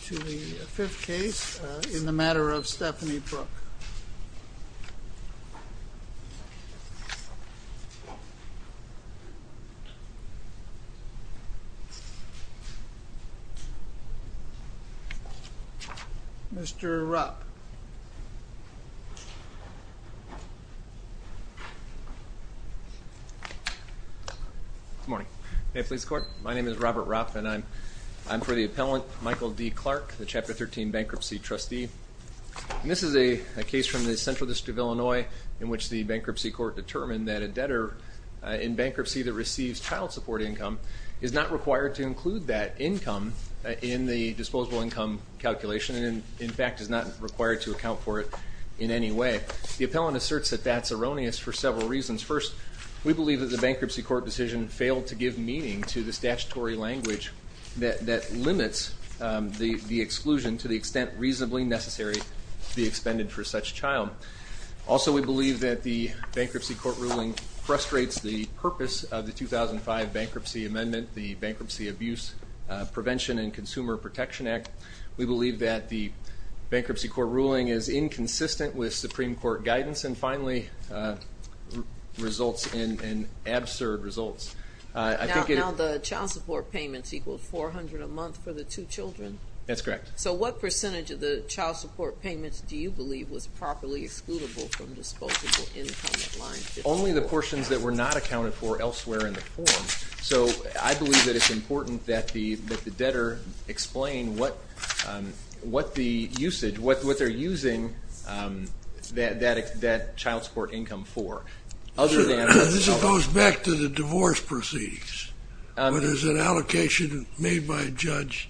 to the fifth case in the matter of Stephanie Brooks. Mr. Rupp. Good morning. My name is Robert Rupp and I'm for the appellant Michael D. Clark, the Chapter 13 Bankruptcy Trustee. And this is a case from the Central District of Illinois in which the bankruptcy court determined that a debtor in bankruptcy that receives child support income is not required to include that income in the disposable income calculation and in fact is not required to account for it in any way. The appellant asserts that that's erroneous for several reasons. First, we believe that the bankruptcy court decision failed to give meaning to the statutory language that limits the exclusion to the extent reasonably necessary to be expended for such child. Also we believe that the bankruptcy court ruling frustrates the purpose of the 2005 Bankruptcy Amendment, the Bankruptcy Abuse Prevention and Consumer Protection Act. We believe that the bankruptcy court ruling is inconsistent with Supreme Court guidance. And finally, results in absurd results. Now the child support payments equal 400 a month for the two children? That's correct. So what percentage of the child support payments do you believe was properly excludable from disposable income at line 54? Only the portions that were not accounted for elsewhere in the form. So I believe that it's important that the debtor explain what the usage, what they're using that child support income for. This goes back to the divorce proceedings, where there's an allocation made by a judge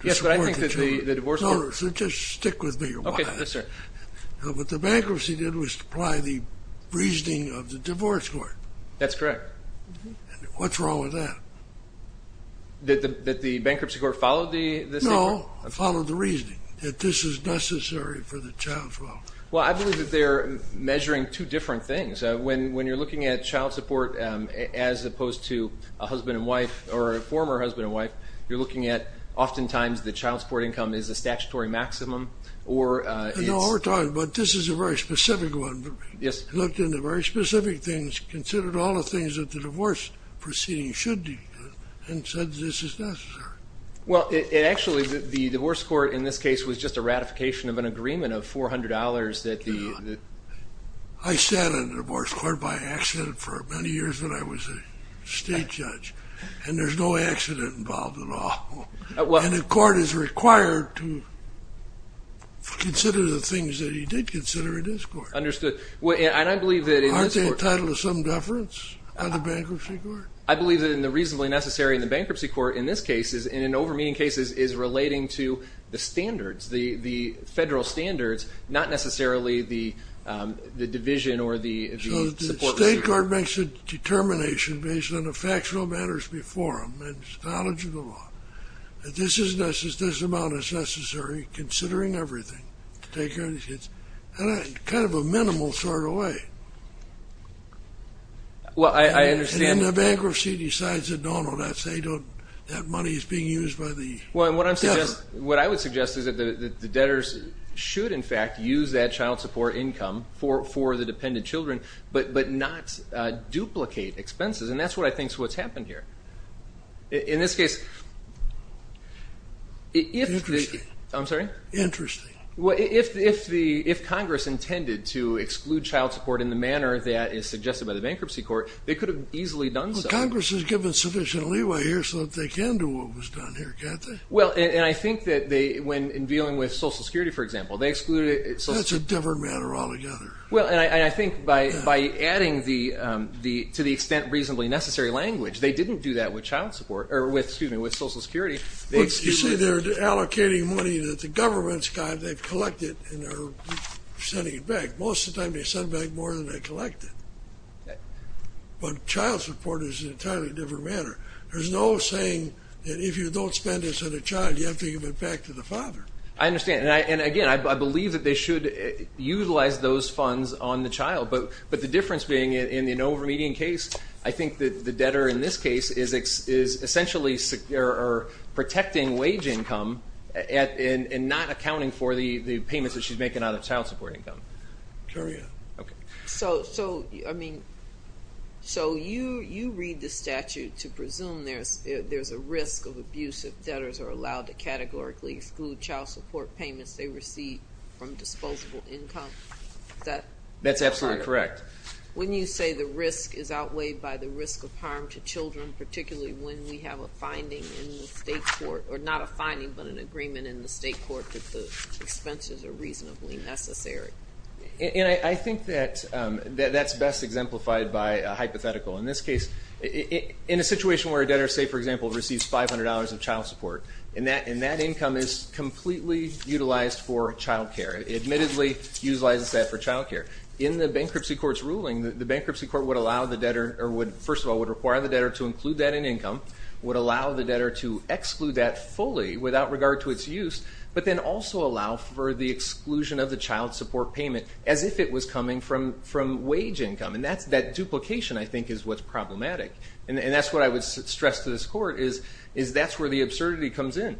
to support the children. Yes, but I think that the divorce court... No, so just stick with me a while. Okay, yes sir. What the bankruptcy did was apply the reasoning of the divorce court. That's correct. What's wrong with that? That the bankruptcy court followed the... No, followed the reasoning. That this is necessary for the child's welfare. Well, I believe that they're measuring two different things. When you're looking at child support, as opposed to a husband and wife, or a former husband and wife, you're looking at oftentimes the child support income is a statutory maximum, or it's... No, we're talking about, this is a very specific one. Yes. Looked into very specific things, considered all the things that the divorce proceedings should do, and said this is necessary. Well, it actually, the divorce court in this case was just a ratification of an agreement of $400 that the... I sat on the divorce court by accident for many years when I was a state judge, and there's no accident involved at all. And the court is required to consider the things that he did consider in this court. Understood. And I believe that in this court... Aren't they entitled to some deference on the bankruptcy court? I believe that in the reasonably necessary in the bankruptcy court in this case, is in an over-meaning cases, is relating to the standards, the federal standards, not necessarily the division or the support procedure. So the state court makes a determination based on the factual matters before them, and knowledge of the law, that this is necessary, this amount is necessary, considering everything, to take care of these kids, in a kind of a minimal sort of way. Well, I understand... And the bankruptcy decides that no, no, that money is being used by the debtor. What I would suggest is that the debtors should, in fact, use that child support income for the dependent children, but not duplicate expenses, and that's what I think is what's happened here. In this case... Interesting. I'm sorry? Interesting. Well, if Congress intended to exclude child support in the manner that is suggested by the bankruptcy court, they could have easily done so. Congress has given sufficient leeway here so that they can do what was done here, can't they? Well, and I think that they, when in dealing with Social Security, for example, they excluded it... That's a different matter altogether. Well, and I think by adding the, to the extent reasonably necessary language, they didn't do that with child support, or with, excuse me, with Social Security. You say they're allocating money that the government's got, they've collected, and they're sending it back. Most of the time, they send back more than they collected. But child support is an entirely different matter. There's no saying that if you don't spend this on a child, you have to give it back to the father. I understand. And again, I believe that they should utilize those funds on the child, but the difference being in an over-median case, I think that the debtor in this case is essentially protecting wage income and not accounting for the payments that she's making out of child support income. Carry on. Okay. So, so, I mean, so you, you read the statute to presume there's, there's a risk of abuse if debtors are allowed to categorically exclude child support payments they receive from disposable income. Is that... That's absolutely correct. When you say the risk is outweighed by the risk of harm to children, particularly when we have a finding in the state court, or not a finding, but an agreement in the state court that the expenses are reasonably necessary. And I think that that's best exemplified by a hypothetical. In this case, in a situation where a debtor, say for example, receives $500 of child support, and that income is completely utilized for child care, it admittedly utilizes that for child care. In the bankruptcy court's ruling, the bankruptcy court would allow the debtor, or would, first of all, would require the debtor to include that in income, would allow the debtor to also allow for the exclusion of the child support payment as if it was coming from, from wage income. And that's, that duplication, I think, is what's problematic. And that's what I would stress to this court, is that's where the absurdity comes in.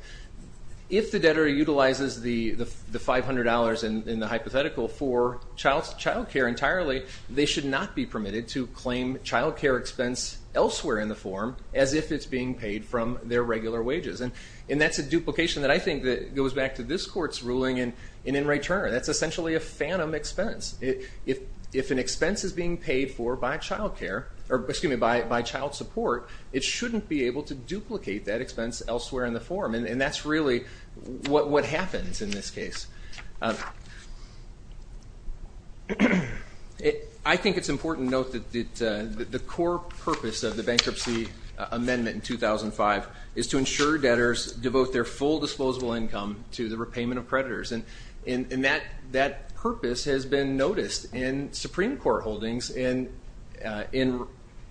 If the debtor utilizes the $500 in the hypothetical for child care entirely, they should not be permitted to claim child care expense elsewhere in the form as if it's being paid from their regular wages. And that's a duplication that I think goes back to this court's ruling in Wray-Turner. That's essentially a phantom expense. If an expense is being paid for by child care, or excuse me, by child support, it shouldn't be able to duplicate that expense elsewhere in the form. And that's really what happens in this case. I think it's important to note that the core purpose of the bankruptcy amendment in 2005 is to ensure debtors devote their full disposable income to the repayment of creditors. And that purpose has been noticed in Supreme Court holdings, and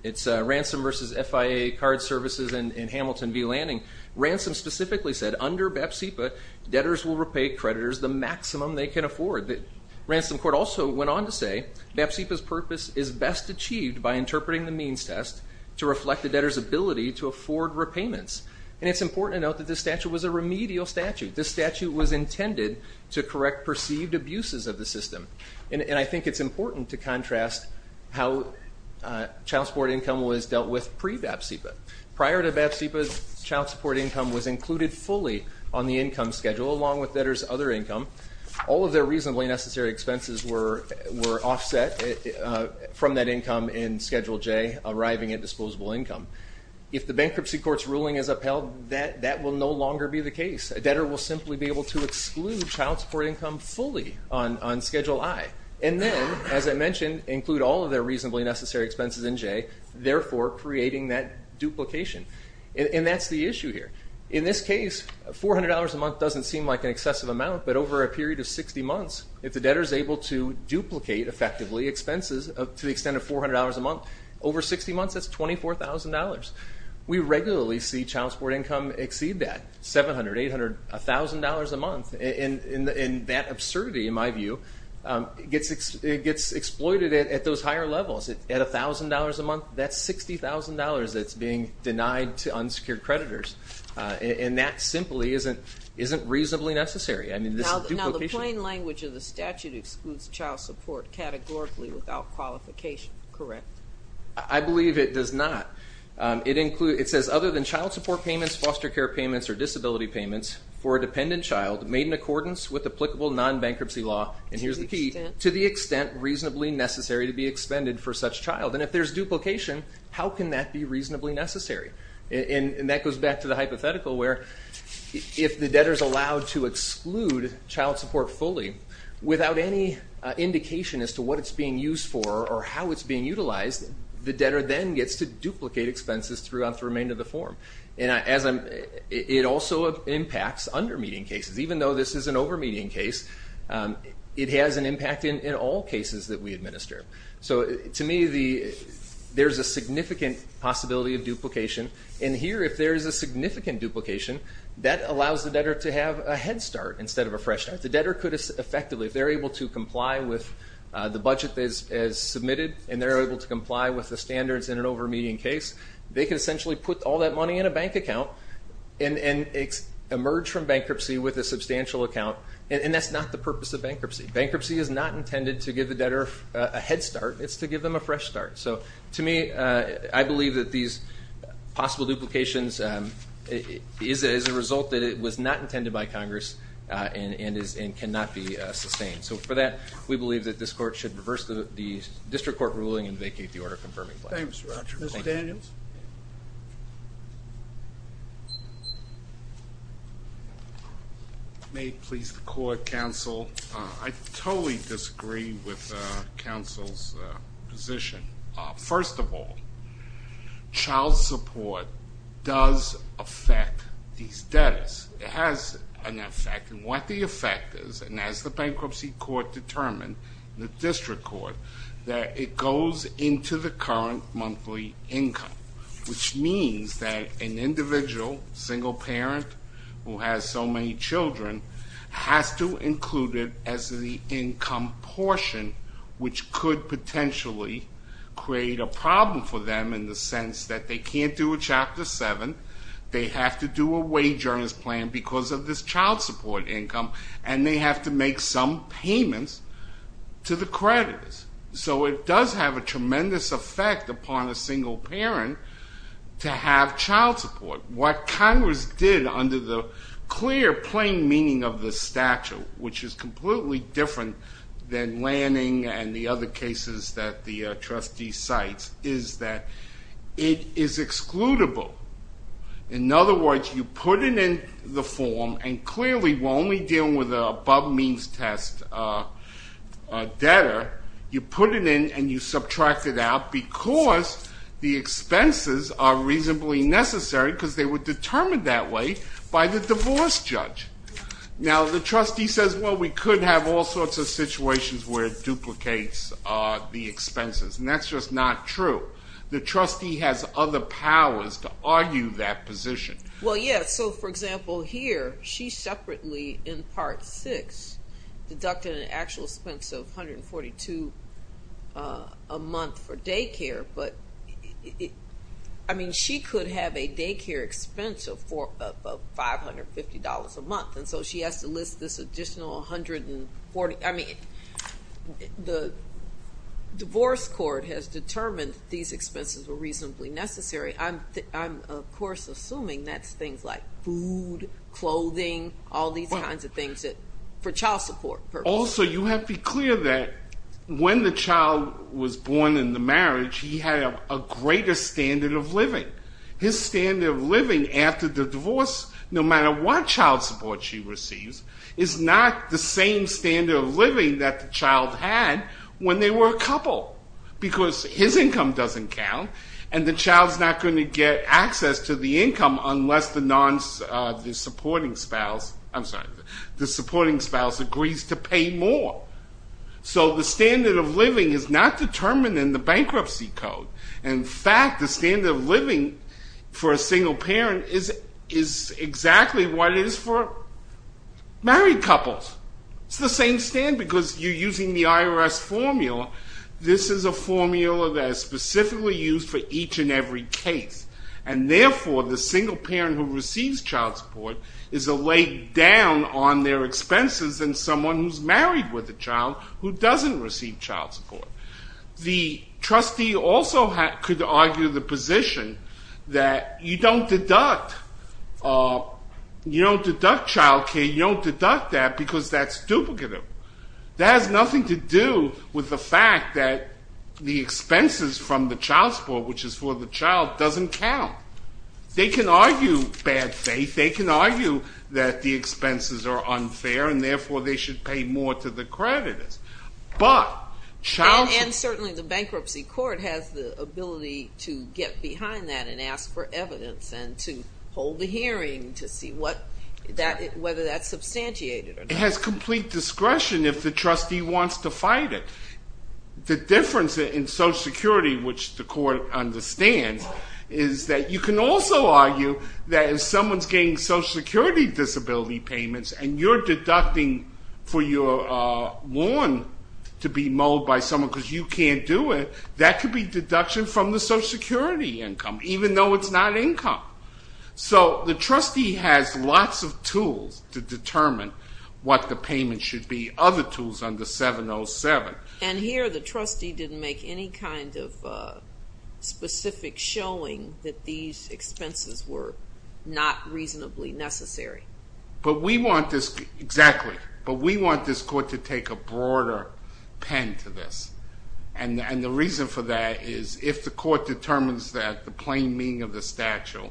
it's Ransom v. FIA Card Services in Hamilton v. Lanning. Ransom specifically said, under BEPSIPA, debtors will repay creditors the maximum they can afford. The Ransom Court also went on to say, BEPSIPA's purpose is best achieved by interpreting the payments. And it's important to note that this statute was a remedial statute. This statute was intended to correct perceived abuses of the system. And I think it's important to contrast how child support income was dealt with pre-BEPSIPA. Prior to BEPSIPA, child support income was included fully on the income schedule, along with debtors' other income. All of their reasonably necessary expenses were offset from that income in Schedule J, arriving at disposable income. If the bankruptcy court's ruling is upheld, that will no longer be the case. A debtor will simply be able to exclude child support income fully on Schedule I, and then, as I mentioned, include all of their reasonably necessary expenses in J, therefore creating that duplication. And that's the issue here. In this case, $400 a month doesn't seem like an excessive amount, but over a period of 60 months, if the debtor's able to duplicate, effectively, expenses to the extent of $400 a month, over 60 months, that's $24,000. We regularly see child support income exceed that, $700, $800, $1,000 a month, and that absurdity, in my view, gets exploited at those higher levels. At $1,000 a month, that's $60,000 that's being denied to unsecured creditors. And that simply isn't reasonably necessary. I mean, this duplication... Now, the plain language of the statute excludes child support categorically without qualification, correct? I believe it does not. It includes... It says, other than child support payments, foster care payments, or disability payments for a dependent child made in accordance with applicable non-bankruptcy law, and here's the key, to the extent reasonably necessary to be expended for such child. And if there's duplication, how can that be reasonably necessary? And that goes back to the hypothetical where if the debtor's allowed to exclude child support fully without any indication as to what it's being used for or how it's being utilized, the debtor then gets to duplicate expenses throughout the remainder of the form. And it also impacts under-median cases. Even though this is an over-median case, it has an impact in all cases that we administer. So to me, there's a significant possibility of duplication, and here, if there is a significant duplication, that allows the debtor to have a head start instead of a fresh start. If the debtor could effectively, if they're able to comply with the budget that is submitted, and they're able to comply with the standards in an over-median case, they could essentially put all that money in a bank account and emerge from bankruptcy with a substantial account. And that's not the purpose of bankruptcy. Bankruptcy is not intended to give the debtor a head start. It's to give them a fresh start. So to me, I believe that these possible duplications is a result that it was not intended by Congress and cannot be sustained. So for that, we believe that this court should reverse the district court ruling and vacate the order confirming plan. Thanks, Roger. Mr. Daniels? May it please the court, counsel. I totally disagree with counsel's position. First of all, child support does affect these debtors. It has an effect. And what the effect is, and as the bankruptcy court determined, the district court, that it goes into the current monthly income. Which means that an individual, single parent, who has so many children, has to include it as the income portion, which could potentially create a problem for them in the sense that they can't do a Chapter 7. They have to do a wage earners plan because of this child support income. And they have to make some payments to the creditors. So it does have a tremendous effect upon a single parent to have child support. What Congress did under the clear, plain meaning of the statute, which is completely different than Lanning and the other cases that the trustee cites, is that it is excludable. In other words, you put it in the form, and clearly we're only dealing with an above means test debtor. You put it in and you subtract it out because the expenses are reasonably necessary because they were determined that way by the divorce judge. Now, the trustee says, well, we could have all sorts of situations where it duplicates the expenses. And that's just not true. The trustee has other powers to argue that position. Well, yeah. So, for example, here, she separately, in Part 6, deducted an actual expense of $142 a month for daycare. I mean, she could have a daycare expense of $550 a month. And so she has to list this additional $140. I mean, the divorce court has determined these expenses were reasonably necessary. I'm, of course, assuming that's things like food, clothing, all these kinds of things for child support purposes. Also, you have to be clear that when the child was born in the marriage, he had a greater standard of living. His standard of living after the divorce, no matter what child support she receives, is not the same standard of living that the child had when they were a couple because his income doesn't count, and the child's not going to get access to the income unless the supporting spouse agrees to pay more. So the standard of living is not determined in the bankruptcy code. In fact, the standard of living for a single parent is exactly what it is for married couples. It's the same standard because you're using the IRS formula. This is a formula that is specifically used for each and every case. And therefore, the single parent who receives child support is a leg down on their expenses than someone who's married with a child who doesn't receive child support. The trustee also could argue the position that you don't deduct. You don't deduct child care. You don't deduct that because that's duplicative. That has nothing to do with the fact that the expenses from the child support, which is for the child, doesn't count. They can argue bad faith. They can argue that the expenses are unfair and therefore they should pay more to the creditors. And certainly the bankruptcy court has the ability to get behind that and ask for evidence and to hold a hearing to see whether that's substantiated or not. It has complete discretion if the trustee wants to fight it. The difference in Social Security, which the court understands, is that you can also argue that if someone's getting Social Security disability payments and you're deducting for your loan to be mowed by someone because you can't do it, that could be deduction from the Social Security income, even though it's not income. So the trustee has lots of tools to determine what the payment should be. And here the trustee didn't make any kind of specific showing that these expenses were not reasonably necessary. Exactly. But we want this court to take a broader pen to this. And the reason for that is if the court determines that the plain meaning of the statute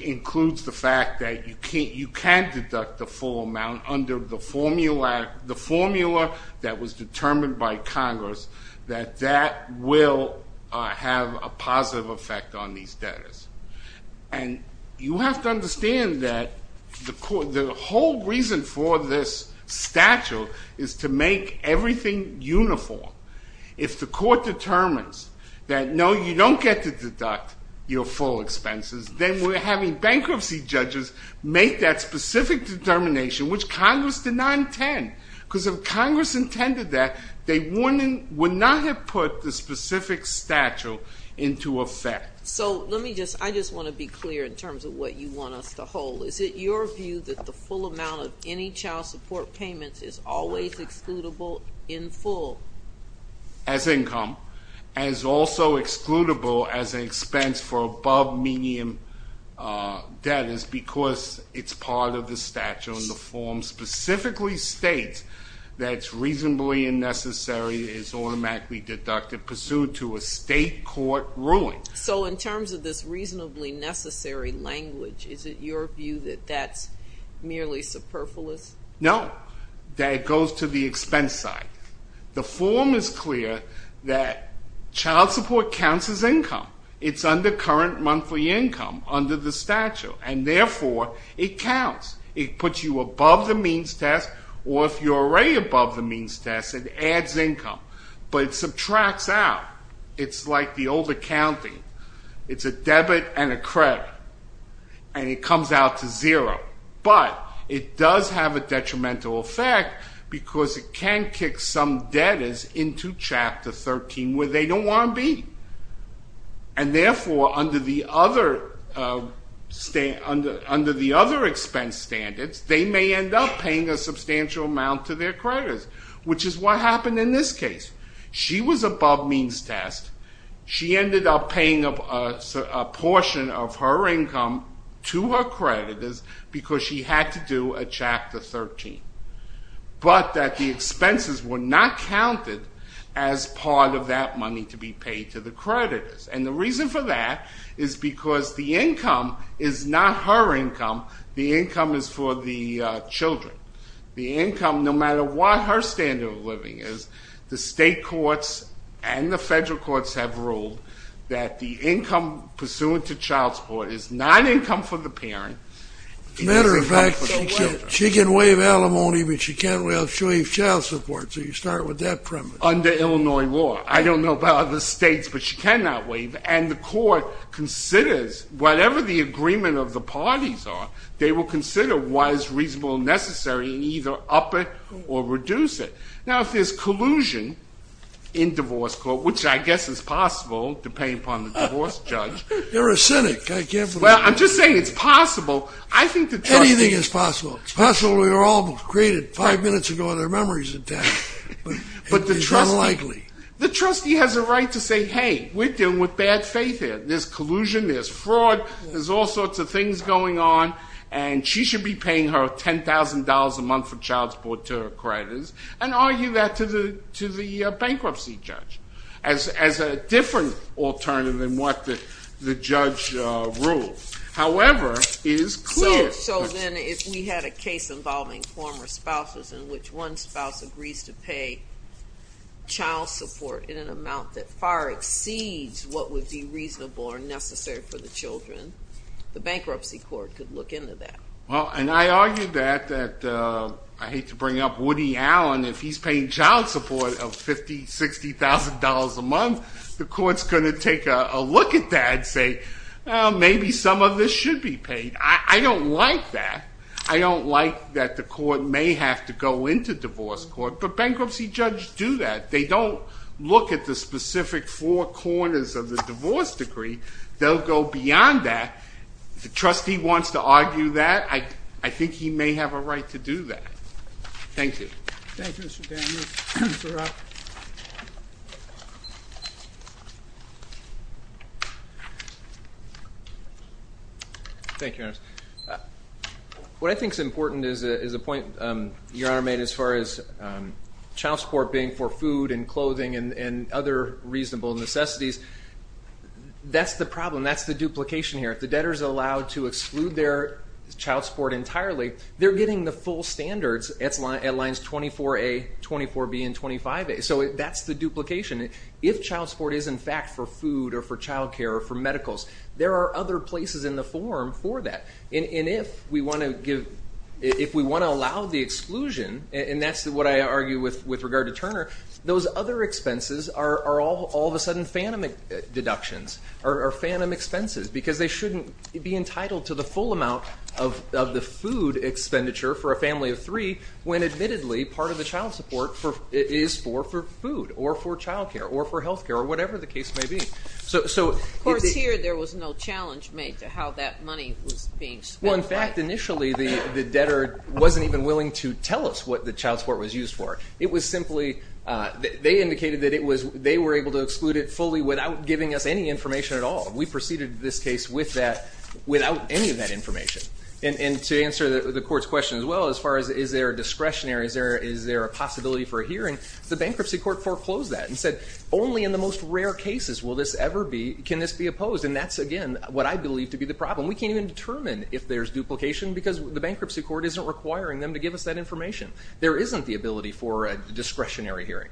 includes the fact that you can deduct the full amount under the formula that was determined by Congress, that that will have a positive effect on these debtors. And you have to understand that the whole reason for this statute is to make everything uniform. If the court determines that, no, you don't get to deduct your full expenses, then we're having bankruptcy judges make that specific determination, which Congress did not intend. Because if Congress intended that, they would not have put the specific statute into effect. So let me just, I just want to be clear in terms of what you want us to hold. Is it your view that the full amount of any child support payments is always excludable in full? As income. As also excludable as an expense for above-medium debtors because it's part of the statute. The form specifically states that it's reasonably unnecessary, is automatically deducted, pursued to a state court ruling. So in terms of this reasonably necessary language, is it your view that that's merely superfluous? No, that it goes to the expense side. The form is clear that child support counts as income. It's under current monthly income under the statute, and therefore it counts. It puts you above the means test, or if you're already above the means test, it adds income, but it subtracts out. It's like the old accounting. It's a debit and a credit, and it comes out to zero. But it does have a detrimental effect because it can kick some debtors into Chapter 13 where they don't want to be. And therefore, under the other expense standards, they may end up paying a substantial amount to their creditors, which is what happened in this case. She was above means test. She ended up paying a portion of her income to her creditors because she had to do a Chapter 13. But that the expenses were not counted as part of that money to be paid to the creditors. And the reason for that is because the income is not her income. The income is for the children. The income, no matter what her standard of living is, the state courts and the federal courts have ruled that the income pursuant to child support is not income for the parent. As a matter of fact, she can waive alimony, but she can't waive child support. So you start with that premise. Under Illinois law. I don't know about other states, but she cannot waive. And the court considers whatever the agreement of the parties are, they will consider what is reasonable and necessary and either up it or reduce it. Now, if there's collusion in divorce court, which I guess is possible depending upon the divorce judge... You're a cynic. Well, I'm just saying it's possible. Anything is possible. It's possible they were all created five minutes ago and their memory's intact. But it's unlikely. The trustee has a right to say, hey, we're dealing with bad faith here. There's collusion, there's fraud, there's all sorts of things going on, and she should be paying her $10,000 a month for child support to her creditors and argue that to the bankruptcy judge as a different alternative than what the judge ruled. However, it is clear... So then if we had a case involving former spouses in which one spouse agrees to pay child support in an amount that far exceeds what would be reasonable or necessary for the children, the bankruptcy court could look into that. Well, and I argue that, that I hate to bring up Woody Allen, if he's paying child support of $50,000, $60,000 a month, the court's going to take a look at that and say, well, maybe some of this should be paid. I don't like that. I don't like that the court may have to go into divorce court, but bankruptcy judges do that. They don't look at the specific four corners of the divorce decree. They'll go beyond that. If the trustee wants to argue that, I think he may have a right to do that. Thank you. Thank you, Mr. Daniels. Mr. Rock. Thank you, Your Honor. What I think is important is a point Your Honor made as far as child support being for food and clothing and other reasonable necessities. That's the problem. That's the duplication here. If the debtor is allowed to exclude their child support entirely, they're getting the full standards at lines 24A, 24B, and 25A. So that's the duplication. If child support is, in fact, for food or for child care or for medicals, there are other places in the form for that. And if we want to allow the exclusion, and that's what I argue with regard to Turner, those other expenses are all of a sudden phantom deductions or phantom expenses because they shouldn't be entitled to the full amount of the food expenditure for a family of three when admittedly part of the child support is for food or for child care or for health care or whatever the case may be. Of course, here there was no challenge made to how that money was being spent. Well, in fact, initially the debtor wasn't even willing to tell us what the child support was used for. It was simply they indicated that they were able to exclude it fully without giving us any information at all. And we proceeded this case with that without any of that information. And to answer the court's question as well as far as is there a discretionary, is there a possibility for a hearing, the bankruptcy court foreclosed that and said only in the most rare cases will this ever be, can this be opposed. And that's, again, what I believe to be the problem. We can't even determine if there's duplication because the bankruptcy court isn't requiring them to give us that information. There isn't the ability for a discretionary hearing.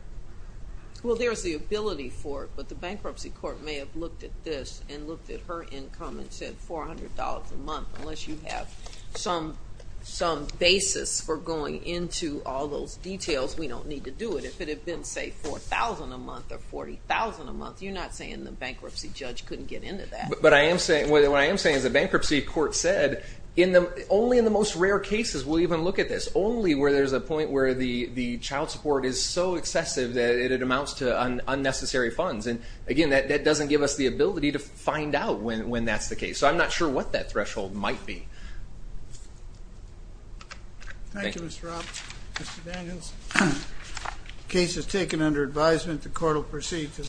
Well, there's the ability for it, but the bankruptcy court may have looked at this and looked at her income and said $400 a month. Unless you have some basis for going into all those details, we don't need to do it. If it had been, say, $4,000 a month or $40,000 a month, you're not saying the bankruptcy judge couldn't get into that. But what I am saying is the bankruptcy court said only in the most rare cases will you even look at this, only where there's a point where the child support is so excessive that it amounts to unnecessary funds. And, again, that doesn't give us the ability to find out when that's the case. So I'm not sure what that threshold might be. Thank you, Mr. Robb. Mr. Daniels, case is taken under advisement. The court will proceed to the next hearing.